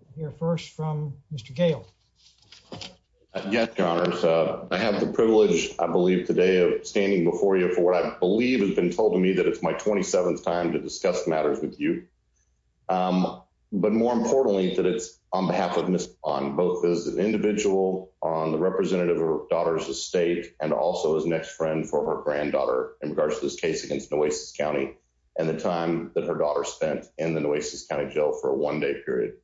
I hear first from Mr. Gale. Yes, Your Honor. I have the privilege, I believe, today of standing before you for what I believe has been told to me that it's my 27th time to discuss matters with you. But more importantly, that it's on behalf of Ms. Bond, both as an individual on the representative of her daughter's estate and also as an ex-friend for her granddaughter in regards to this case against Nueces County and the time that her daughter spent in the Nueces County Jail for a one-day period.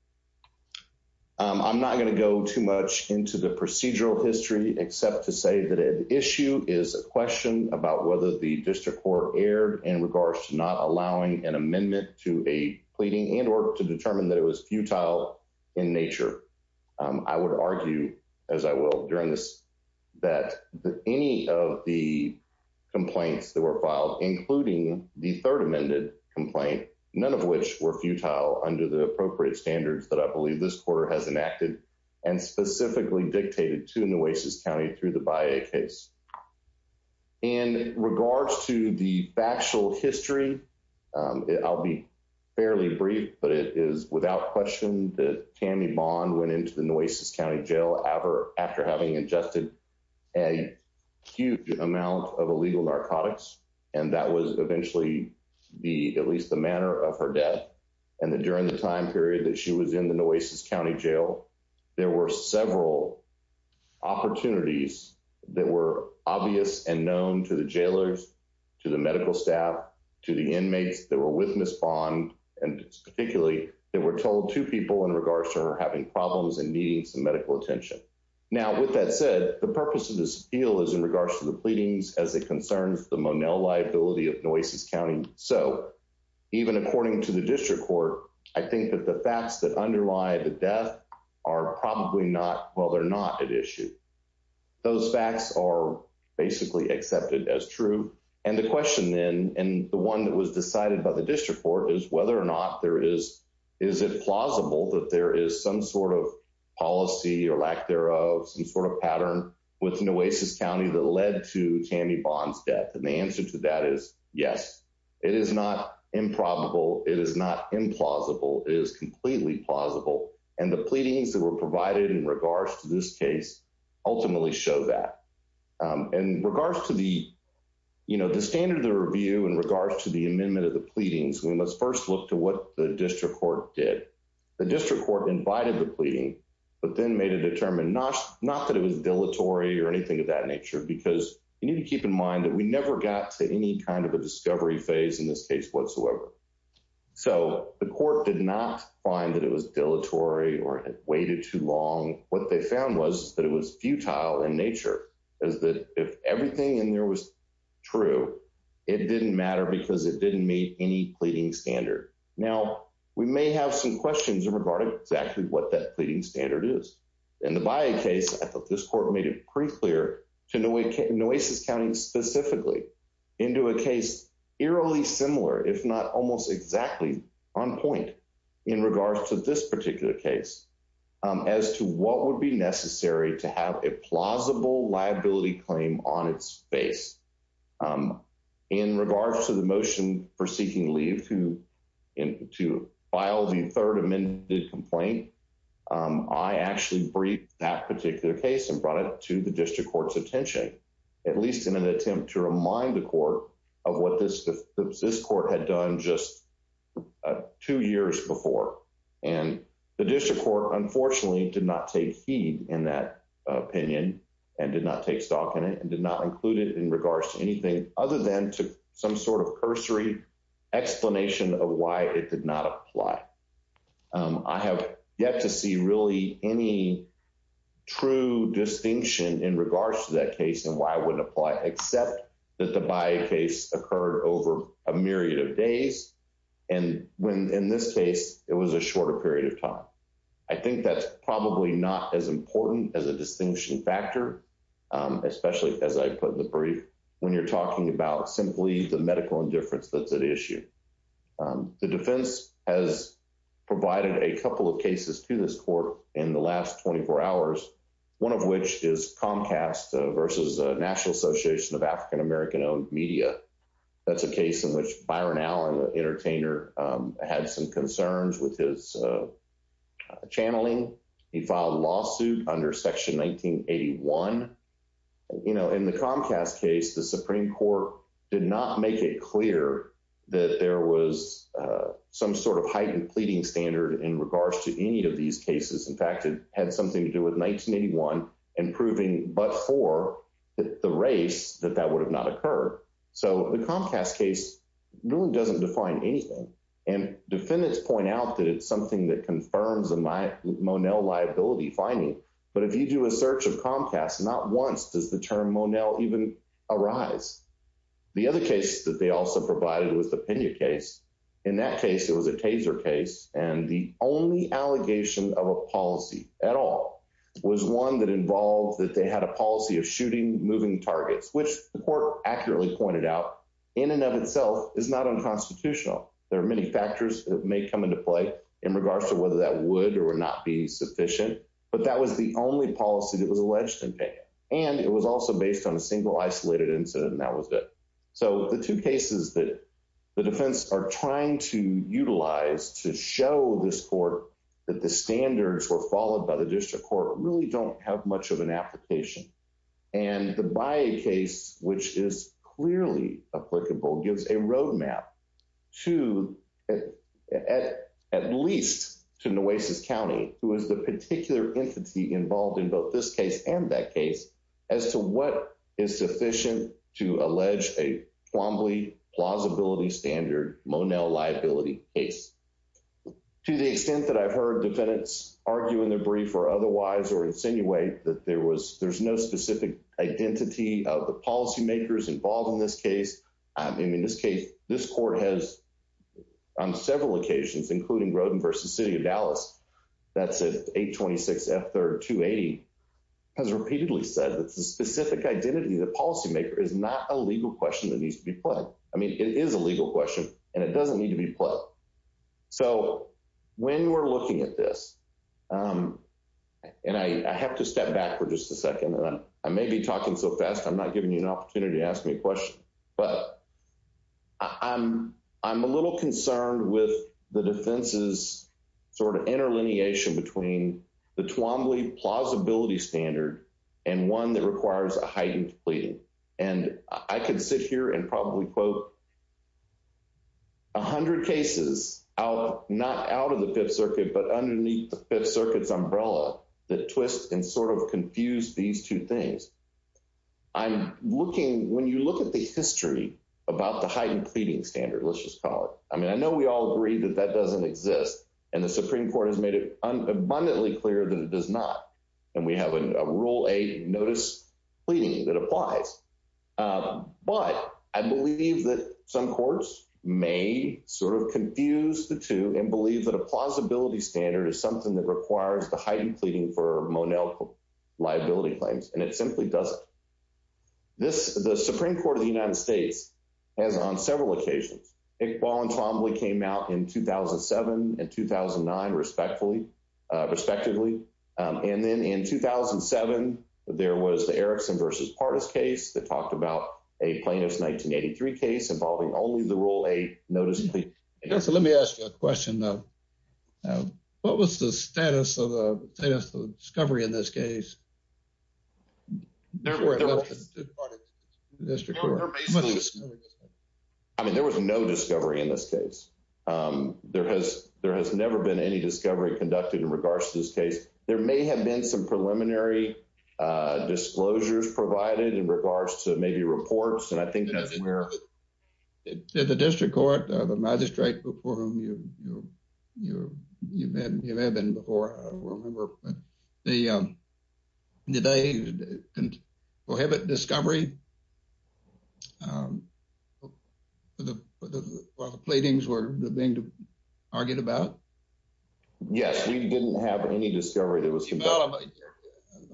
I'm not going to go too much into the procedural history except to say that an issue is a question about whether the district court erred in regards to not allowing an amendment to a pleading and or to determine that it was futile in nature. I would argue, as I will during this, that any of the complaints that were filed, including the third amended complaint, none of which were futile under the appropriate standards that I believe this court has enacted and specifically dictated to Nueces County through the BIA case. In regards to the factual history, I'll be fairly brief, but it is without question that Tammy Bond went into the Nueces County Jail after having ingested a huge amount of illegal narcotics and that was eventually the at least the manner of her death and that during the time period that she was in the Nueces County Jail there were several opportunities that were obvious and known to the jailers, to the medical staff, to the inmates that were with Ms. Bond and particularly they were told to people in regards to her having problems and needing some medical attention. Now with that said, the purpose of this appeal is in regards to the pleadings as it concerns the Monell liability of Nueces County. So even according to the district court, I think that the facts that underlie the death are probably not, well they're not at issue. Those facts are basically accepted as true and the question then and the one that was decided by the district court is whether or not there is, is it plausible that there is some sort of policy or lack thereof, some sort of pattern within Nueces County that led to Tammy Bond's death and the answer to that is yes, it is not improbable, it is not implausible, it is completely plausible and the pleadings that were provided in regards to this case ultimately show that. In regards to the, you know, the standard of the review in regards to the amendment of the pleadings, we must first look to what the district court did. The district court invited the pleading but then made a determined, not that it was dilatory or anything of that nature because you need to keep in mind that we never got to any kind of a discovery phase in this case whatsoever. So the court did not find that it was dilatory or it waited too long. What they found was that it was futile in nature, is that if everything in there was true, it didn't matter because it didn't meet any pleading standard. Now, we may have some questions regarding exactly what that pleading standard is. In the Bayeh case, I thought this court made it pretty clear to Nueces County specifically into a case eerily similar, if not almost exactly on point in regards to this particular case, as to what would be necessary to have a plausible liability claim on its face. In regards to the motion for seeking leave to file the third amended complaint, I actually briefed that particular case and brought it to the district court's attention, at least in an attempt to remind the court of what this court had done just two years before. And the district court unfortunately did not take heed in that opinion and did not take stock in it and did not include it in regards to anything other than to some sort of cursory explanation of why it did not apply. I have yet to see really any true distinction in regards to that case and why it wouldn't apply, except that the Bayeh case occurred over a myriad of days. And when in this case, it was a shorter period of time. I think that's probably not as important as a distinguishing factor, especially as I put in the brief, when you're talking about simply the medical indifference that's at issue. The defense has provided a couple of cases to this court in the last 24 hours, one of which is Comcast versus the National Association of African American-Owned Media. That's a case in which Byron Allen, entertainer, had some concerns with his channeling. He filed a lawsuit under Section 1981. In the Comcast case, the Supreme Court did not make it clear that there was some sort of heightened pleading standard in regards to any of these cases. In fact, it had something to do with 1981 and proving but for the race that that would have not occurred. So the Comcast case really doesn't define anything. And defendants point out that it's something that confirms a Monell liability finding. But if you do a search of Comcast, not once does the term Monell even arise. The other case that they also provided was the Pena case. In that case, it was a taser case. And the only allegation of a policy at all was one that involved that they had a policy of shooting moving targets, which the court accurately pointed out, in and of itself, is not unconstitutional. There are many factors that may come into play in regards to whether that would or would not be sufficient. But that was the only policy that was alleged in Pena. And it was also based on a single isolated incident. And that was it. So the two cases that the defense are trying to utilize to show this court that the standards were followed by the district court really don't have much of an application. And the Baye case, which is clearly applicable, gives a roadmap to, at least to Nueces County, who is the particular entity involved in both this case and that case, as to what is sufficient to allege a flamboyant plausibility standard Monell liability case. To the extent that I've heard defendants argue in the brief or otherwise or insinuate that there was there's no specific identity of the policymakers involved in this case. I mean, in this case, this court has, on several occasions, including Roden versus City of Dallas, that's at 826 F3rd 280, has repeatedly said that the specific identity of the policymaker is not a legal question that needs to be put. I mean, it is a legal question, and it doesn't need to be put. So when we're looking at this, and I have to step back for just a second, and I may be talking so fast, I'm not giving you an opportunity to ask me a question, but I'm a little concerned with the defense's sort of interlineation between the Twombly plausibility standard and one that out, not out of the Fifth Circuit, but underneath the Fifth Circuit's umbrella, that twist and sort of confuse these two things. I'm looking, when you look at the history about the heightened pleading standard, let's just call it, I mean, I know we all agree that that doesn't exist. And the Supreme Court has made it abundantly clear that it does not. And we have a rule eight confuse the two and believe that a plausibility standard is something that requires the heightened pleading for Monell liability claims, and it simply doesn't. The Supreme Court of the United States has on several occasions, it voluntarily came out in 2007 and 2009, respectively. And then in 2007, there was the Erickson versus Pardis case that talked about a plaintiff's 1983 case involving only the rule eight notice. So let me ask you a question, though. What was the status of the discovery in this case? I mean, there was no discovery in this case. There has never been any discovery conducted in regards to this case. There may have been some preliminary disclosures provided in regards to reports. And I think that's where the district court magistrate before whom you've been before. The prohibit discovery. Well, the pleadings were being argued about. Yes, we didn't have any discovery that was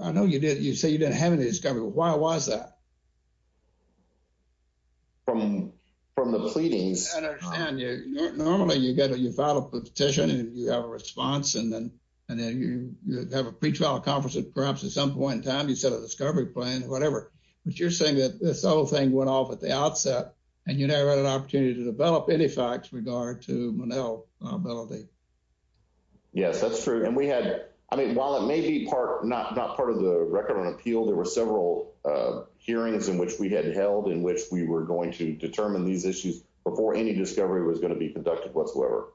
I know you did. You say you didn't have any discovery. Why was that? I don't understand. Normally, you get a you file a petition and you have a response and then and then you have a pretrial conference, perhaps at some point in time, you set a discovery plan, whatever. But you're saying that this whole thing went off at the outset and you never had an opportunity to develop any facts regard to Monell liability. Yes, that's true. And we had I mean, while it may be part not not part of the record on appeal, there were several hearings in which we had held in which we were going to determine these issues before any discovery was going to be conducted whatsoever.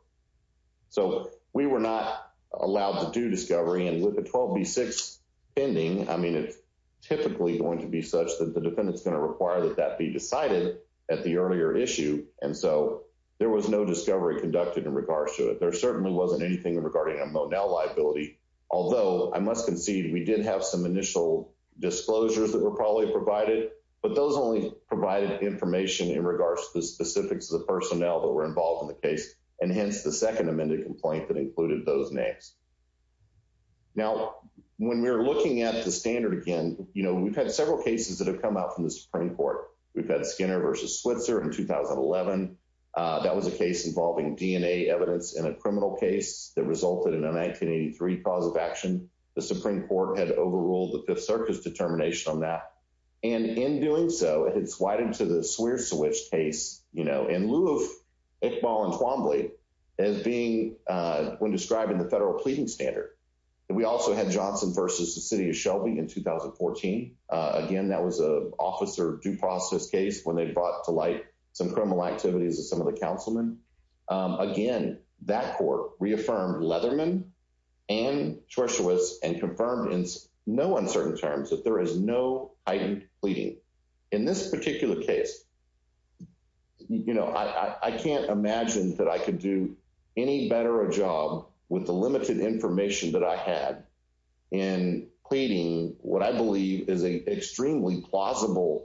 So we were not allowed to do discovery. And with the 12 B6 pending, I mean, it's typically going to be such that the defendant's going to require that that be decided at the earlier issue. And so there was no discovery conducted in regards to it. There certainly wasn't anything regarding Monell liability, although I must concede we did have some initial disclosures that were probably provided, but those only provided information in regards to the specifics of the personnel that were involved in the case, and hence, the second amended complaint that included those names. Now, when we're looking at the standard, again, you know, we've had several cases that have come out from the Supreme Court, we've had Skinner versus Switzer in 2011. That was a case involving DNA evidence in a criminal case that resulted in a 1983 cause of action. The Supreme Court had overruled the Fifth Circuit's determination on that. And in doing so, it's widened to the Swear Switch case, you know, in lieu of Iqbal and Twombly as being when describing the federal pleading standard. We also had Johnson versus the City of Shelby in 2014. Again, that was a officer due process case when they brought to light some criminal activities of some of the councilmen. Again, that court reaffirmed Leatherman and Swear Switch and confirmed in no uncertain terms that there is no heightened pleading. In this particular case, you know, I can't imagine that I could do any better a job with the limited information that I had in pleading what I believe is an implausible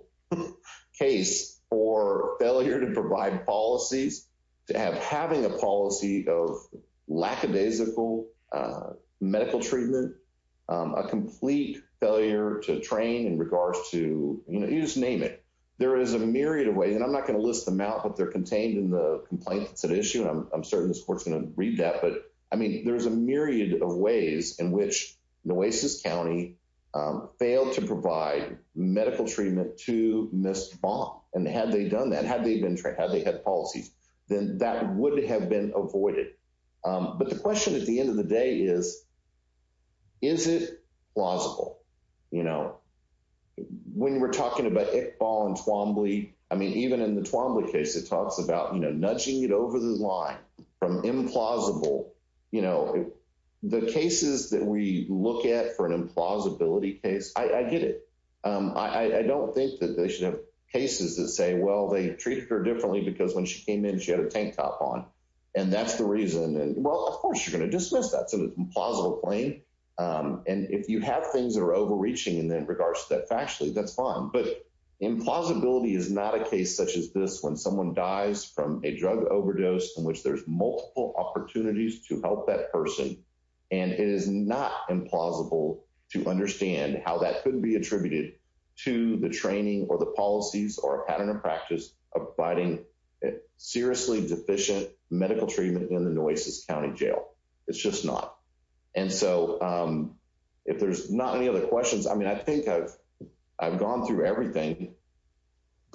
case for failure to provide policies, to have having a policy of lackadaisical medical treatment, a complete failure to train in regards to, you know, you just name it. There is a myriad of ways, and I'm not going to list them out, but they're contained in the complaint that's at issue. And I'm certain this court's going to read that. But I mean, there's a myriad of ways in which Nueces County failed to provide medical treatment to Ms. Twombly. And had they done that, had they had policies, then that would have been avoided. But the question at the end of the day is, is it plausible? You know, when we're talking about Iqbal and Twombly, I mean, even in the Twombly case, it talks about, you know, nudging it over the line from implausible. You know, the cases that we look at for an implausibility case, I get it. I don't think that they should have cases that say, well, they treated her differently because when she came in, she had a tank top on. And that's the reason. And well, of course, you're going to dismiss that. So it's an implausible claim. And if you have things that are overreaching in regards to that factually, that's fine. But implausibility is not a case such as this, when someone dies from a drug overdose in which there's multiple opportunities to help that person. And it is not implausible to understand how that couldn't be attributed to the training or the policies or a pattern of practice of providing seriously deficient medical treatment in the Nueces County Jail. It's just not. And so if there's not any other questions, I mean, I think I've gone through everything.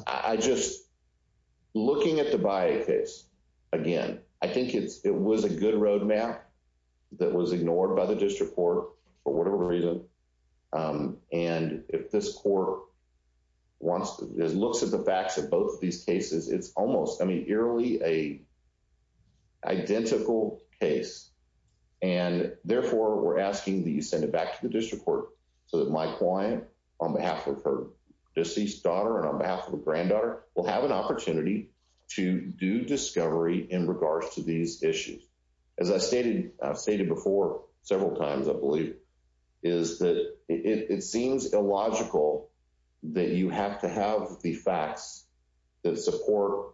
I just, looking at the Baye case, again, I think it was a good roadmap that was ignored by the district court for whatever reason. And if this court wants, looks at the facts of both of these cases, it's almost, I mean, eerily a identical case. And therefore, we're asking that you send it back to the district court so that my client, on behalf of her deceased daughter and on behalf of her granddaughter, will have an opportunity to do discovery in regards to these issues. As I've stated before several times, I believe, is that it seems illogical that you have to have the facts that support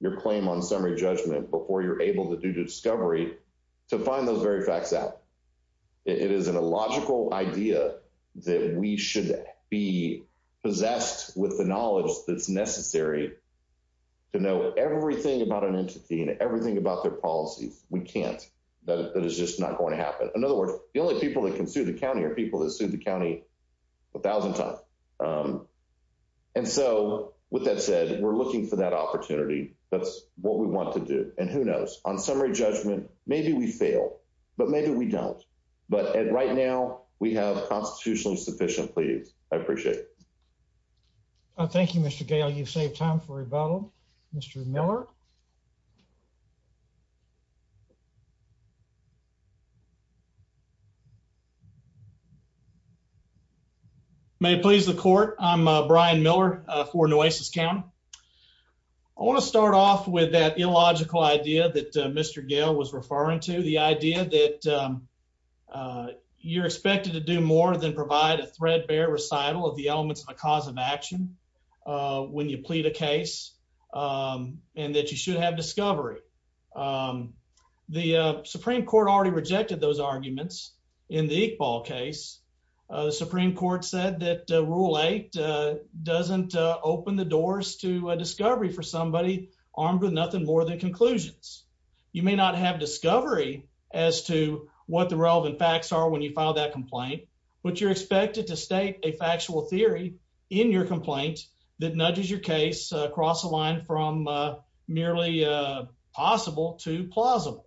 your claim on summary judgment before you're able to do the discovery to find those very facts out. It is an illogical idea that we should be possessed with the knowledge that's necessary to know everything about an entity and everything about their policies. We can't. That is just not going to happen. In other words, the only people that can sue the county are people that sued the county a thousand times. And so with that said, we're looking for opportunity. That's what we want to do. And who knows? On summary judgment, maybe we fail, but maybe we don't. But right now, we have constitutionally sufficient pleas. I appreciate it. Thank you, Mr. Gale. You saved time for rebuttal. Mr. Miller. May it please the court. I'm Brian Miller for Nueces County. I want to start off with that illogical idea that Mr. Gale was referring to. The idea that you're expected to do more than provide a threadbare recital of the elements of a cause of action when you plead a case, and that you should have discovery. The Supreme Court already rejected those arguments in the Iqbal case. The Supreme Court said that Rule 8 doesn't open the doors to a discovery for somebody armed with nothing more than conclusions. You may not have discovery as to what the relevant facts are when you file that complaint, but you're expected to state a factual theory in your complaint that nudges your case across the line from merely possible to plausible.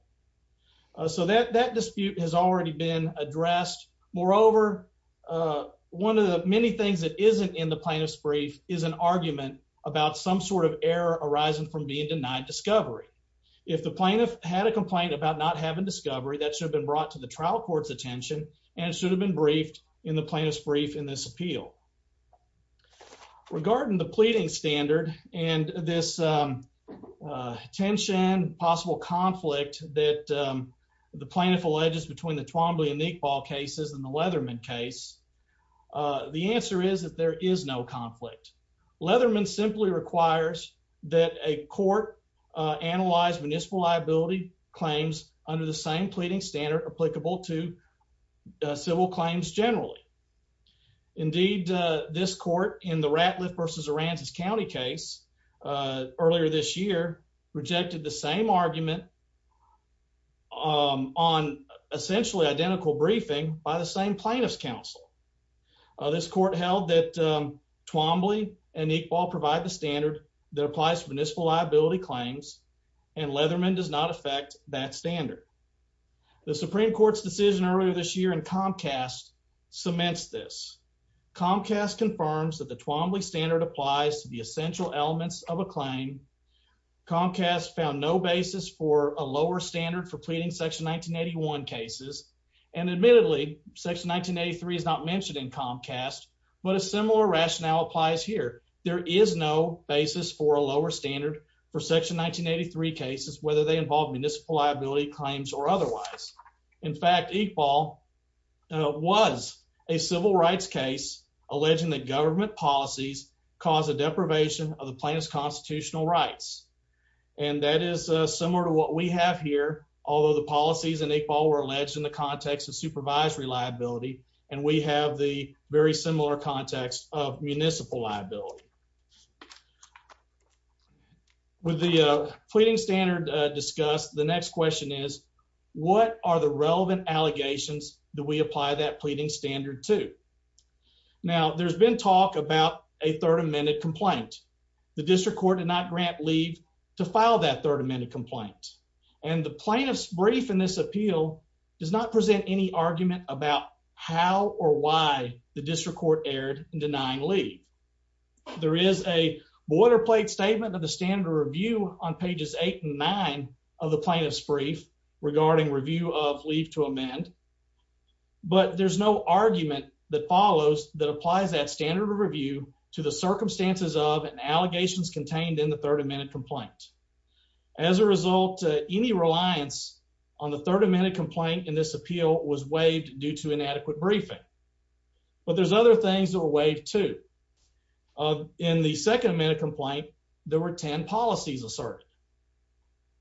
So that dispute has already been addressed. Moreover, one of the many things that isn't in the plaintiff's brief is an argument about some sort of error arising from being denied discovery. If the plaintiff had a complaint about not having discovery, that should have been brought to the trial court's attention, and it should have been briefed in the plaintiff's brief in this appeal. Regarding the pleading standard and this tension, possible conflict that the plaintiff alleges between the Twombly and Iqbal cases and the Leatherman case, the answer is that there is no conflict. Leatherman simply requires that a court analyze municipal liability claims under the same pleading standard applicable to civil claims generally. Indeed, this court, in the Ratliff v. Aransas County case earlier this year, rejected the same argument on essentially identical briefing by the same plaintiff's counsel. This court held that Twombly and Iqbal provide the standard that applies to municipal liability claims, and Leatherman does not affect that standard. The Supreme Court's decision earlier this year in Comcast cements this. Comcast confirms that the Twombly standard applies to the essential elements of a claim. Comcast found no basis for a lower standard for pleading Section 1981 cases, and admittedly, Section 1983 is not mentioned in Comcast, but a similar rationale applies here. There is no basis for a lower standard for Section 1983 cases, whether they involve municipal liability claims or otherwise. In fact, Iqbal was a civil rights case alleging that government policies cause a deprivation of the plaintiff's constitutional rights, and that is similar to what we have here, although the policies in Iqbal were alleged in the context of supervisory liability, and we have the very similar context of municipal liability. With the pleading standard discussed, the next question is, what are the relevant allegations that we apply that pleading standard to? Now, there's been talk about a third amended complaint. The district court did not grant leave to file that third amended complaint, and the plaintiff's brief in this appeal does not present any argument about how or why the district court erred in denying leave. There is a boilerplate statement of the standard review on pages eight and nine of the plaintiff's brief regarding review of leave to amend, but there's no argument that follows that applies that standard review to the circumstances of and allegations contained in the third amended complaint. As a result, any reliance on the third amended complaint in this appeal was waived due to inadequate briefing, but there's other things that were waived too. In the second amended complaint, there were 10 policies asserted.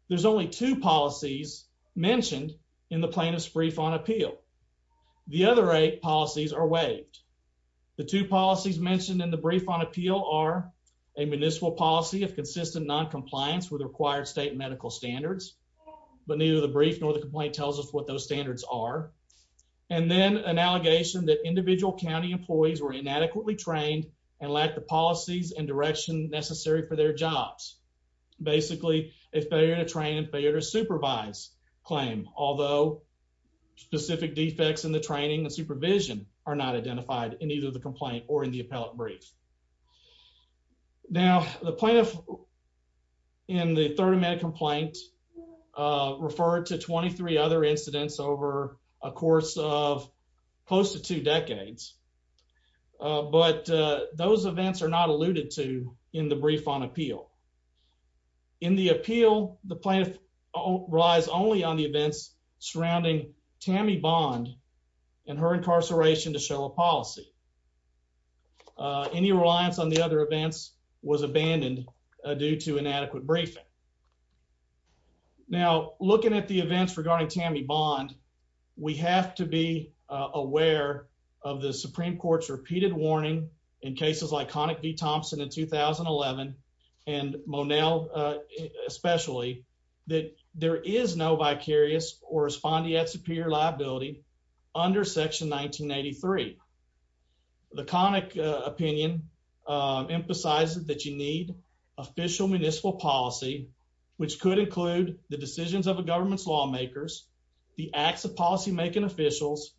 There's only two policies mentioned in the plaintiff's brief on Three policies mentioned in the brief on appeal are a municipal policy of consistent non-compliance with required state medical standards, but neither the brief nor the complaint tells us what those standards are, and then an allegation that individual county employees were inadequately trained and lacked the policies and direction necessary for their jobs. Basically, a failure to train and failure to supervise claim, although specific defects in the training and supervision are not identified in either the complaint or in the appellate brief. Now, the plaintiff in the third amended complaint referred to 23 other incidents over a course of close to two decades, but those events are not alluded to in the brief on appeal. In the appeal, the plaintiff relies only on the events surrounding Tammy Bond and her incarceration to show a policy. Any reliance on the other events was abandoned due to inadequate briefing. Now, looking at the events regarding Tammy Bond, we have to be aware of the Supreme Court's Monel, especially, that there is no vicarious or respondeat superior liability under section 1983. The conic opinion emphasizes that you need official municipal policy, which could include the decisions of a government's lawmakers, the acts of policymaking officials,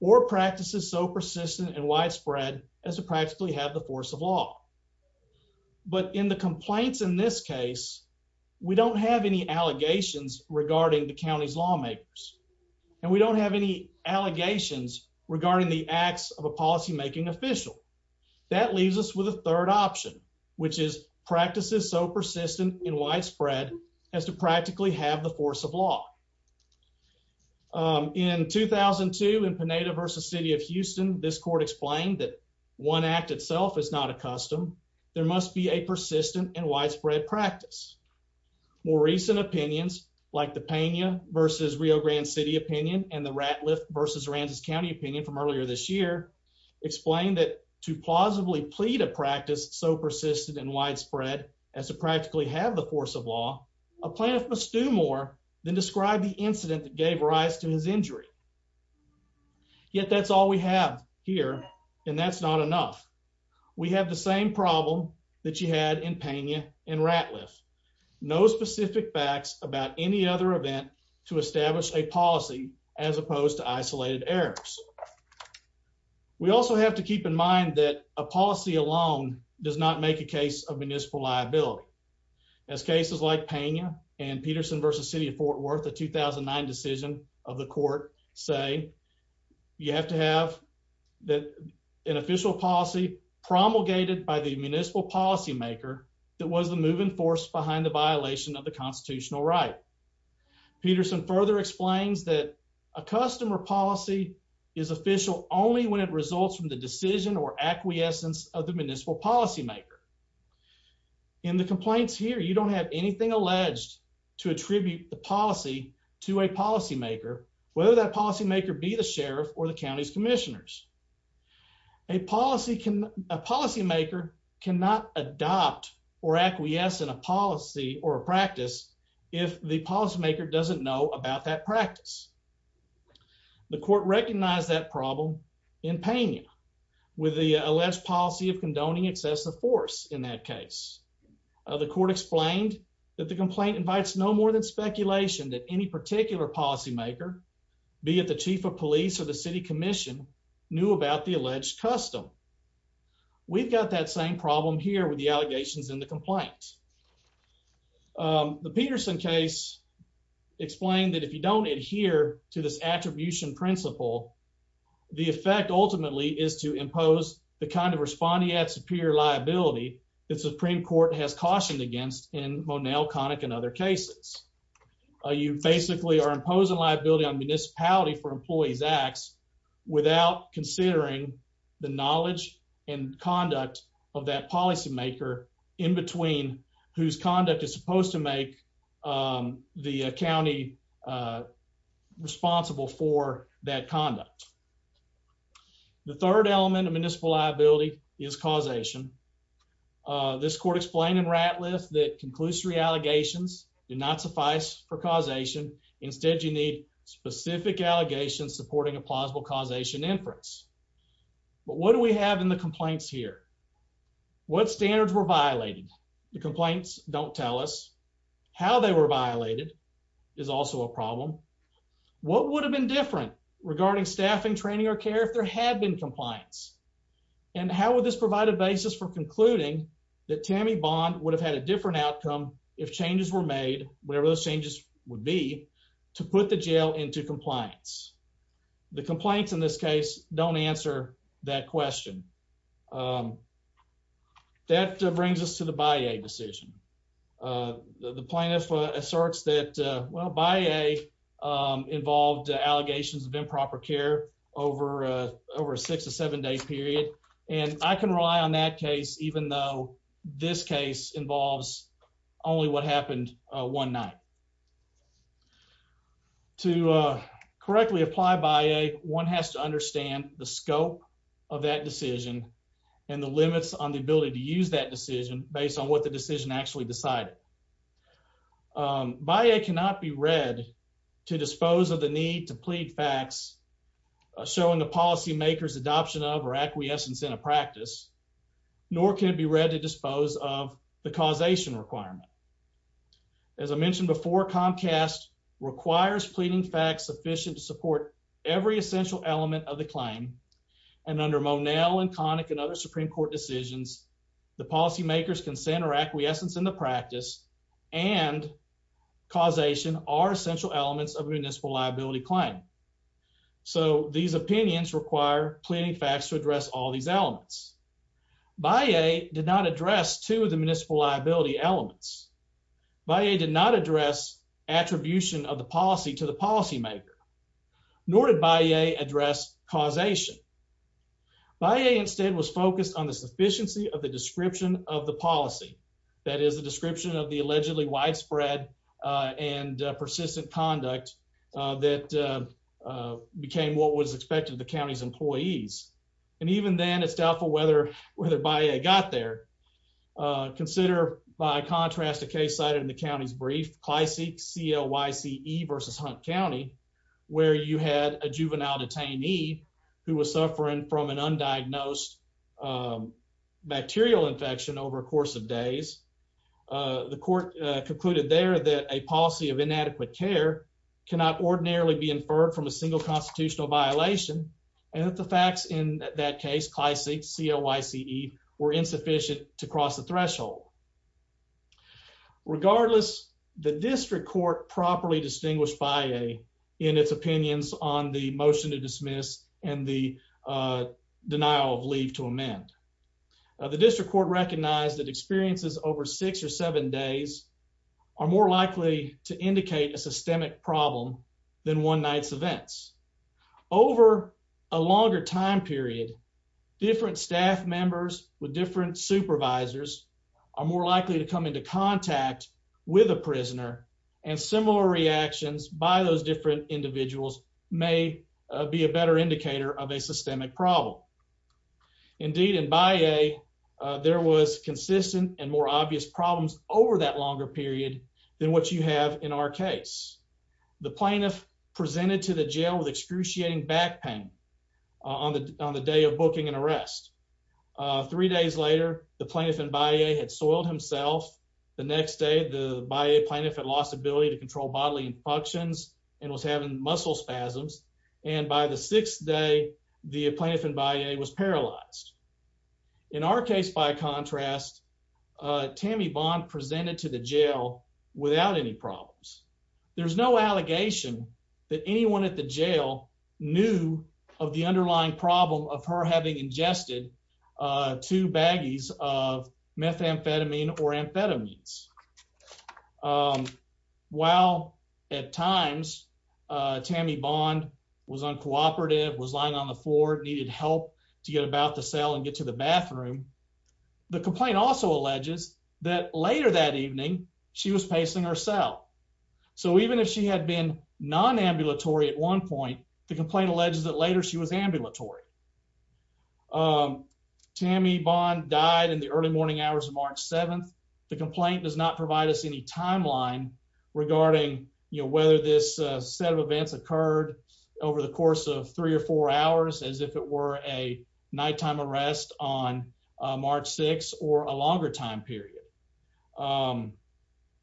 or practices so persistent and widespread as to practically have the force of law. But in the complaints in this case, we don't have any allegations regarding the county's lawmakers, and we don't have any allegations regarding the acts of a policymaking official. That leaves us with a third option, which is practices so persistent and widespread as to practically have the force of law. In 2002, in Pineda v. City of Houston, this court explained that one act itself is not a custom. There must be a persistent and widespread practice. More recent opinions, like the Pena v. Rio Grande City opinion and the Ratliff v. Rancis County opinion from earlier this year, explained that to plausibly plead a practice so persistent and widespread as to practically have the force of law, a plaintiff must do more than describe the incident that gave rise to his injury. Yet that's all we have here, and that's not enough. We have the same problem that you had in Pena and Ratliff. No specific facts about any other event to establish a policy as opposed to isolated errors. We also have to keep in mind that a policy alone does not make a case of municipal liability. As cases like Pena and Peterson v. City of Fort Worth, a 2009 decision of the court, say you have to have an official policy promulgated by the municipal policymaker that was the moving force behind the violation of the constitutional right. Peterson further explains that a customer policy is official only when it results from the decision or acquiescence of the municipal policymaker. In the complaints here, you don't have anything alleged to attribute the policy to a policymaker, whether that policymaker be the sheriff or the county's commissioners. A policy can a policymaker cannot adopt or acquiesce in a policy or a practice if the policymaker doesn't know about that practice. The court recognized that problem in with the alleged policy of condoning excessive force in that case. The court explained that the complaint invites no more than speculation that any particular policymaker, be it the chief of police or the city commission, knew about the alleged custom. We've got that same problem here with the allegations in the complaint. The Peterson case explained that if you don't adhere to this attribution principle, the effect ultimately is to impose the kind of respondeat superior liability that Supreme Court has cautioned against in Monell, Connick, and other cases. You basically are imposing liability on municipality for employees acts without considering the knowledge and conduct of that policymaker in between whose conduct is supposed to make the county responsible for that conduct. The third element of municipal liability is causation. This court explained in Ratliff that conclusory allegations do not suffice for causation. Instead, you need specific allegations supporting a plausible causation inference. But what do we have in the complaints here? What standards were violated? The complaints don't tell us. How they were violated is also a problem. What would have been different regarding staffing, training, or care if there had been compliance? And how would this provide a basis for concluding that Tammy Bond would have had a different outcome if changes were made, whatever those changes would be, to put the jail into compliance? The complaints in this case don't answer that question. That brings us to the BIA decision. The plaintiff asserts that, well, BIA involved allegations of improper care over a six to seven day period. And I can rely on that case even though this case involves only what happened one night. To correctly apply BIA, one has to understand the scope of that decision and the limits on the ability to use that decision based on what the decision actually decided. BIA cannot be read to dispose of the need to plead facts showing the policymaker's adoption of or acquiescence in a practice, nor can it be read to dispose of the causation requirement. As I mentioned before, Comcast requires pleading facts sufficient to support every essential element of the claim. And under Monell and Connick and other Supreme Court decisions, the policymaker's consent or acquiescence in the practice and causation are essential elements of a municipal liability claim. So these opinions require pleading facts to address all these elements. BIA did not address two of the policymaker, nor did BIA address causation. BIA instead was focused on the sufficiency of the description of the policy. That is the description of the allegedly widespread and persistent conduct that became what was expected of the county's employees. And even then, it's doubtful whether BIA got there. Consider by contrast a case cited in CLYCE, CLYCE versus Hunt County, where you had a juvenile detainee who was suffering from an undiagnosed bacterial infection over a course of days. The court concluded there that a policy of inadequate care cannot ordinarily be inferred from a single constitutional violation, and that the facts in that case, CLYCE, CLYCE, were insufficient to cross the threshold. Regardless, the district court properly distinguished BIA in its opinions on the motion to dismiss and the denial of leave to amend. The district court recognized that experiences over six or seven days are more likely to indicate a systemic problem than one night's events. Over a longer time period, different staff members with different supervisors are more likely to come into contact with a prisoner, and similar reactions by those different individuals may be a better indicator of a systemic problem. Indeed, in BIA, there was consistent and more obvious problems over that longer period than what you have in our case. The plaintiff presented to the jail with excruciating back pain on the day of booking and arrest. Three days later, the plaintiff in BIA had soiled himself. The next day, the BIA plaintiff had lost ability to control bodily functions and was having muscle spasms, and by the sixth day, the plaintiff in BIA was paralyzed. In our case, by contrast, Tammy Bond presented to the jail without any problems. There's no allegation that anyone at the jail knew of the underlying problem of her having ingested two baggies of methamphetamine or amphetamines. While at times Tammy Bond was uncooperative, was lying on the floor, needed help to get about the cell and get to the bathroom, the complaint also alleges that later that evening she was pacing her cell. So even if she had been non-ambulatory at one point, the complaint alleges that later she was ambulatory. Tammy Bond died in the early morning hours of March 7th. The complaint does not provide us any timeline regarding whether this set of events occurred over the course of three or four hours as if it were a nighttime arrest on March 6th or a longer time period.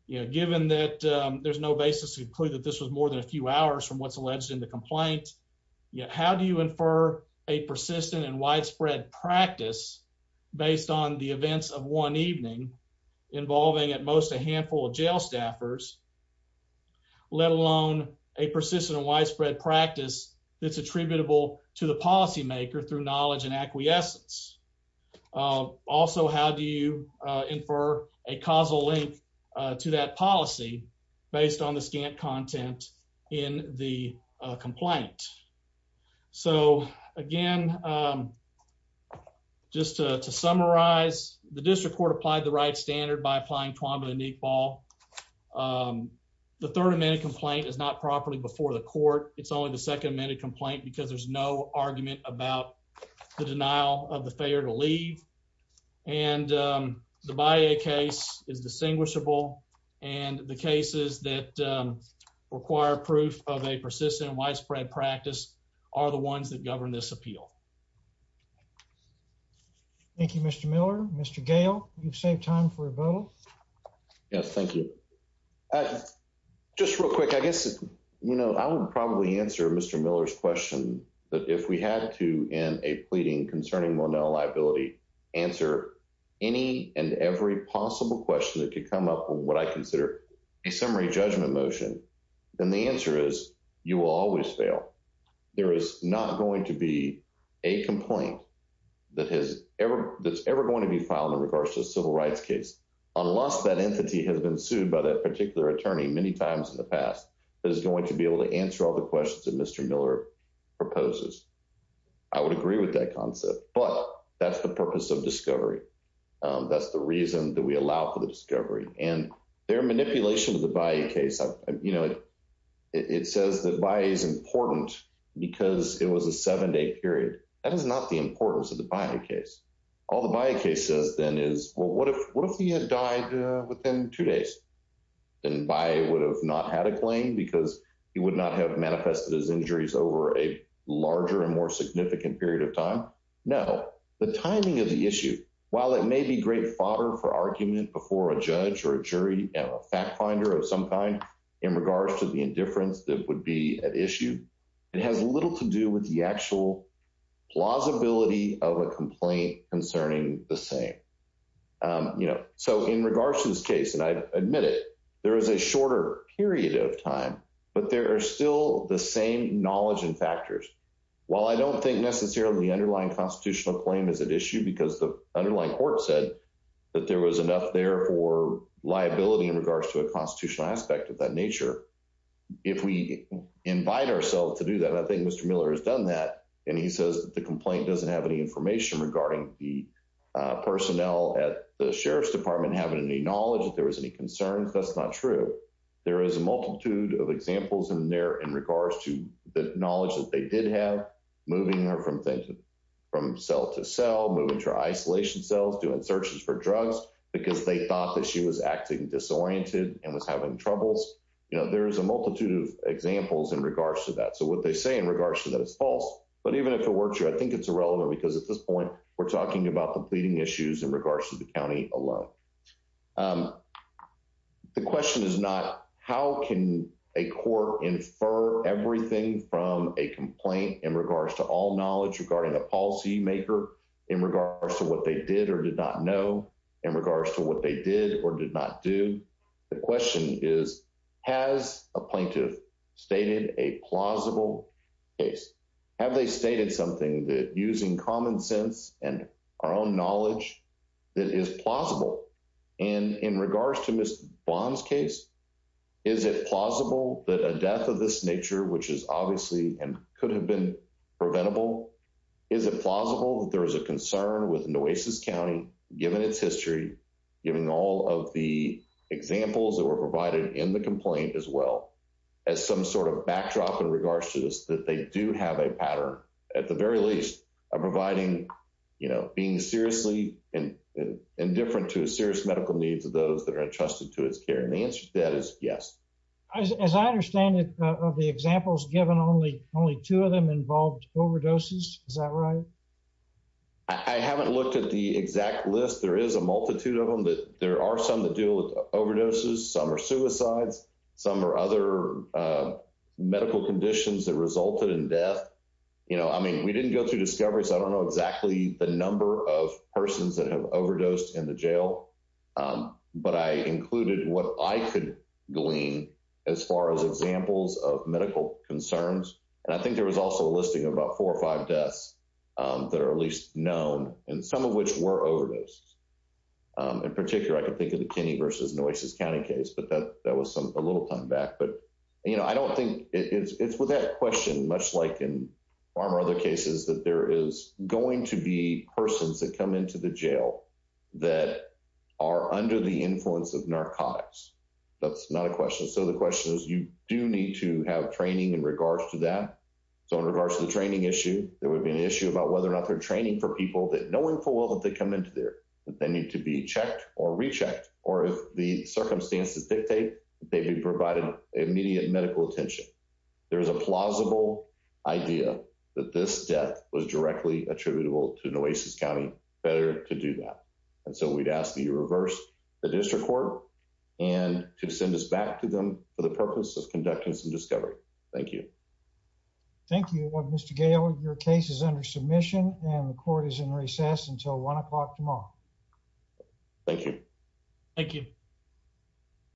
Given that there's no basis to conclude that this was more than a few hours from what's alleged in the complaint, how do you infer a persistent and widespread practice based on the events of one evening involving at most a handful of jail staffers, let alone a persistent and widespread practice that's attributable to the policymaker through knowledge and acquiescence? Also, how do you infer a causal link to that policy based on the scant content in the complaint? So again, just to summarize, the district court applied the right standard by applying Tuamba-Niqbal. The Third Amendment complaint is not properly before the court. It's only the Second Amendment complaint because there's no argument about the denial of the failure to leave. And the Baye case is distinguishable, and the cases that require proof of a persistent and widespread practice are the ones that govern this appeal. Thank you, Mr. Miller. Mr. Gale, you've saved time for a vote. Yes, thank you. Just real quick, I guess, you know, I would probably answer Mr. Miller's question that if we had to, in a pleading concerning Monell liability, answer any and every possible question that could come up with what I consider a summary judgment motion, then the answer is you will always fail. There is not going to be a complaint that's ever going to be filed in regards to a civil rights case, unless that entity has been sued by that particular attorney many times in the past, that is going to be able to answer all the questions that Mr. Miller proposes. I would agree with that concept, but that's the purpose of discovery. That's the reason that we allow for the discovery. And their manipulation of the Baye case, you know, it says that Baye is important because it was a seven-day period. That is not the importance of the Baye case. All the Baye case says then is, well, what if he had died within two days? Then Baye would have not had a claim because he would not have manifested his injuries over a larger and more significant period of time. No, the timing of the issue, while it may be great fodder for argument before a judge or a jury and a fact finder of some kind in regards to the indifference that would be at issue, it has little to do with the actual plausibility of a complaint concerning the same. You know, so in regards to this case, and I admit it, there is a shorter period of time, but there are still the same knowledge and factors. While I don't think necessarily the underlying constitutional claim is at issue because the underlying court said that there was enough there for liability in regards to a constitutional aspect of that nature, if we invite ourselves to do that, and I think Mr. Miller has done that, and he says the complaint doesn't have any information regarding the personnel at the Sheriff's Department having any knowledge that there was any concerns, that's not true. There is a multitude of examples in there in regards to the knowledge that they did have, moving her from cell to cell, moving her to isolation cells, doing searches for drugs because they thought that she was acting disoriented and was having troubles. You know, there's a multitude of examples in regards to that. So what they say in regards to that is false, but even if it works here, I think it's irrelevant because at this point we're talking about the pleading issues in regards to the county alone. The question is not, how can a court infer everything from a complaint in regards to all knowledge regarding a policy maker in regards to what they did or did not know, in regards to what they did or did not do. The question is, has a plaintiff stated a plausible case? Have they stated something that, using common sense and our own knowledge, that is plausible? And in regards to Ms. Bond's case, is it plausible that a death of this nature, which is obviously and could have been preventable, is it plausible that there is a concern with Nueces County, given its history, giving all of the examples that were provided in the complaint as well, as some sort of backdrop in regards to this, that they do have a pattern, at the very least, of providing, you know, being seriously indifferent to serious medical needs of those that are entrusted to its care? And the answer to that is, is that right? I haven't looked at the exact list. There is a multitude of them, but there are some that deal with overdoses, some are suicides, some are other medical conditions that resulted in death. You know, I mean, we didn't go through discoveries. I don't know exactly the number of persons that have overdosed in the jail, but I included what I could glean as far as examples of medical concerns. And I think there was also a listing about four or five deaths that are at least known, and some of which were overdoses. In particular, I can think of the Kinney versus Nueces County case, but that was a little time back. But, you know, I don't think it's without question, much like in far more other cases, that there is going to be persons that come into the jail that are under the influence of narcotics. That's not a question. So the question is, you do need to have training in regards to that. So in regards to the training issue, there would be an issue about whether or not they're training for people that knowing full well that they come into there, that they need to be checked or rechecked, or if the circumstances dictate that they'd be provided immediate medical attention. There is a plausible idea that this death was directly attributable to Nueces County, better to do that. And so we'd ask that you reverse the district court and to send us back to them for the purpose of conducting some discovery. Thank you. Thank you, Mr. Gale. Your case is under submission, and the court is in recess until one o'clock tomorrow. Thank you. Thank you.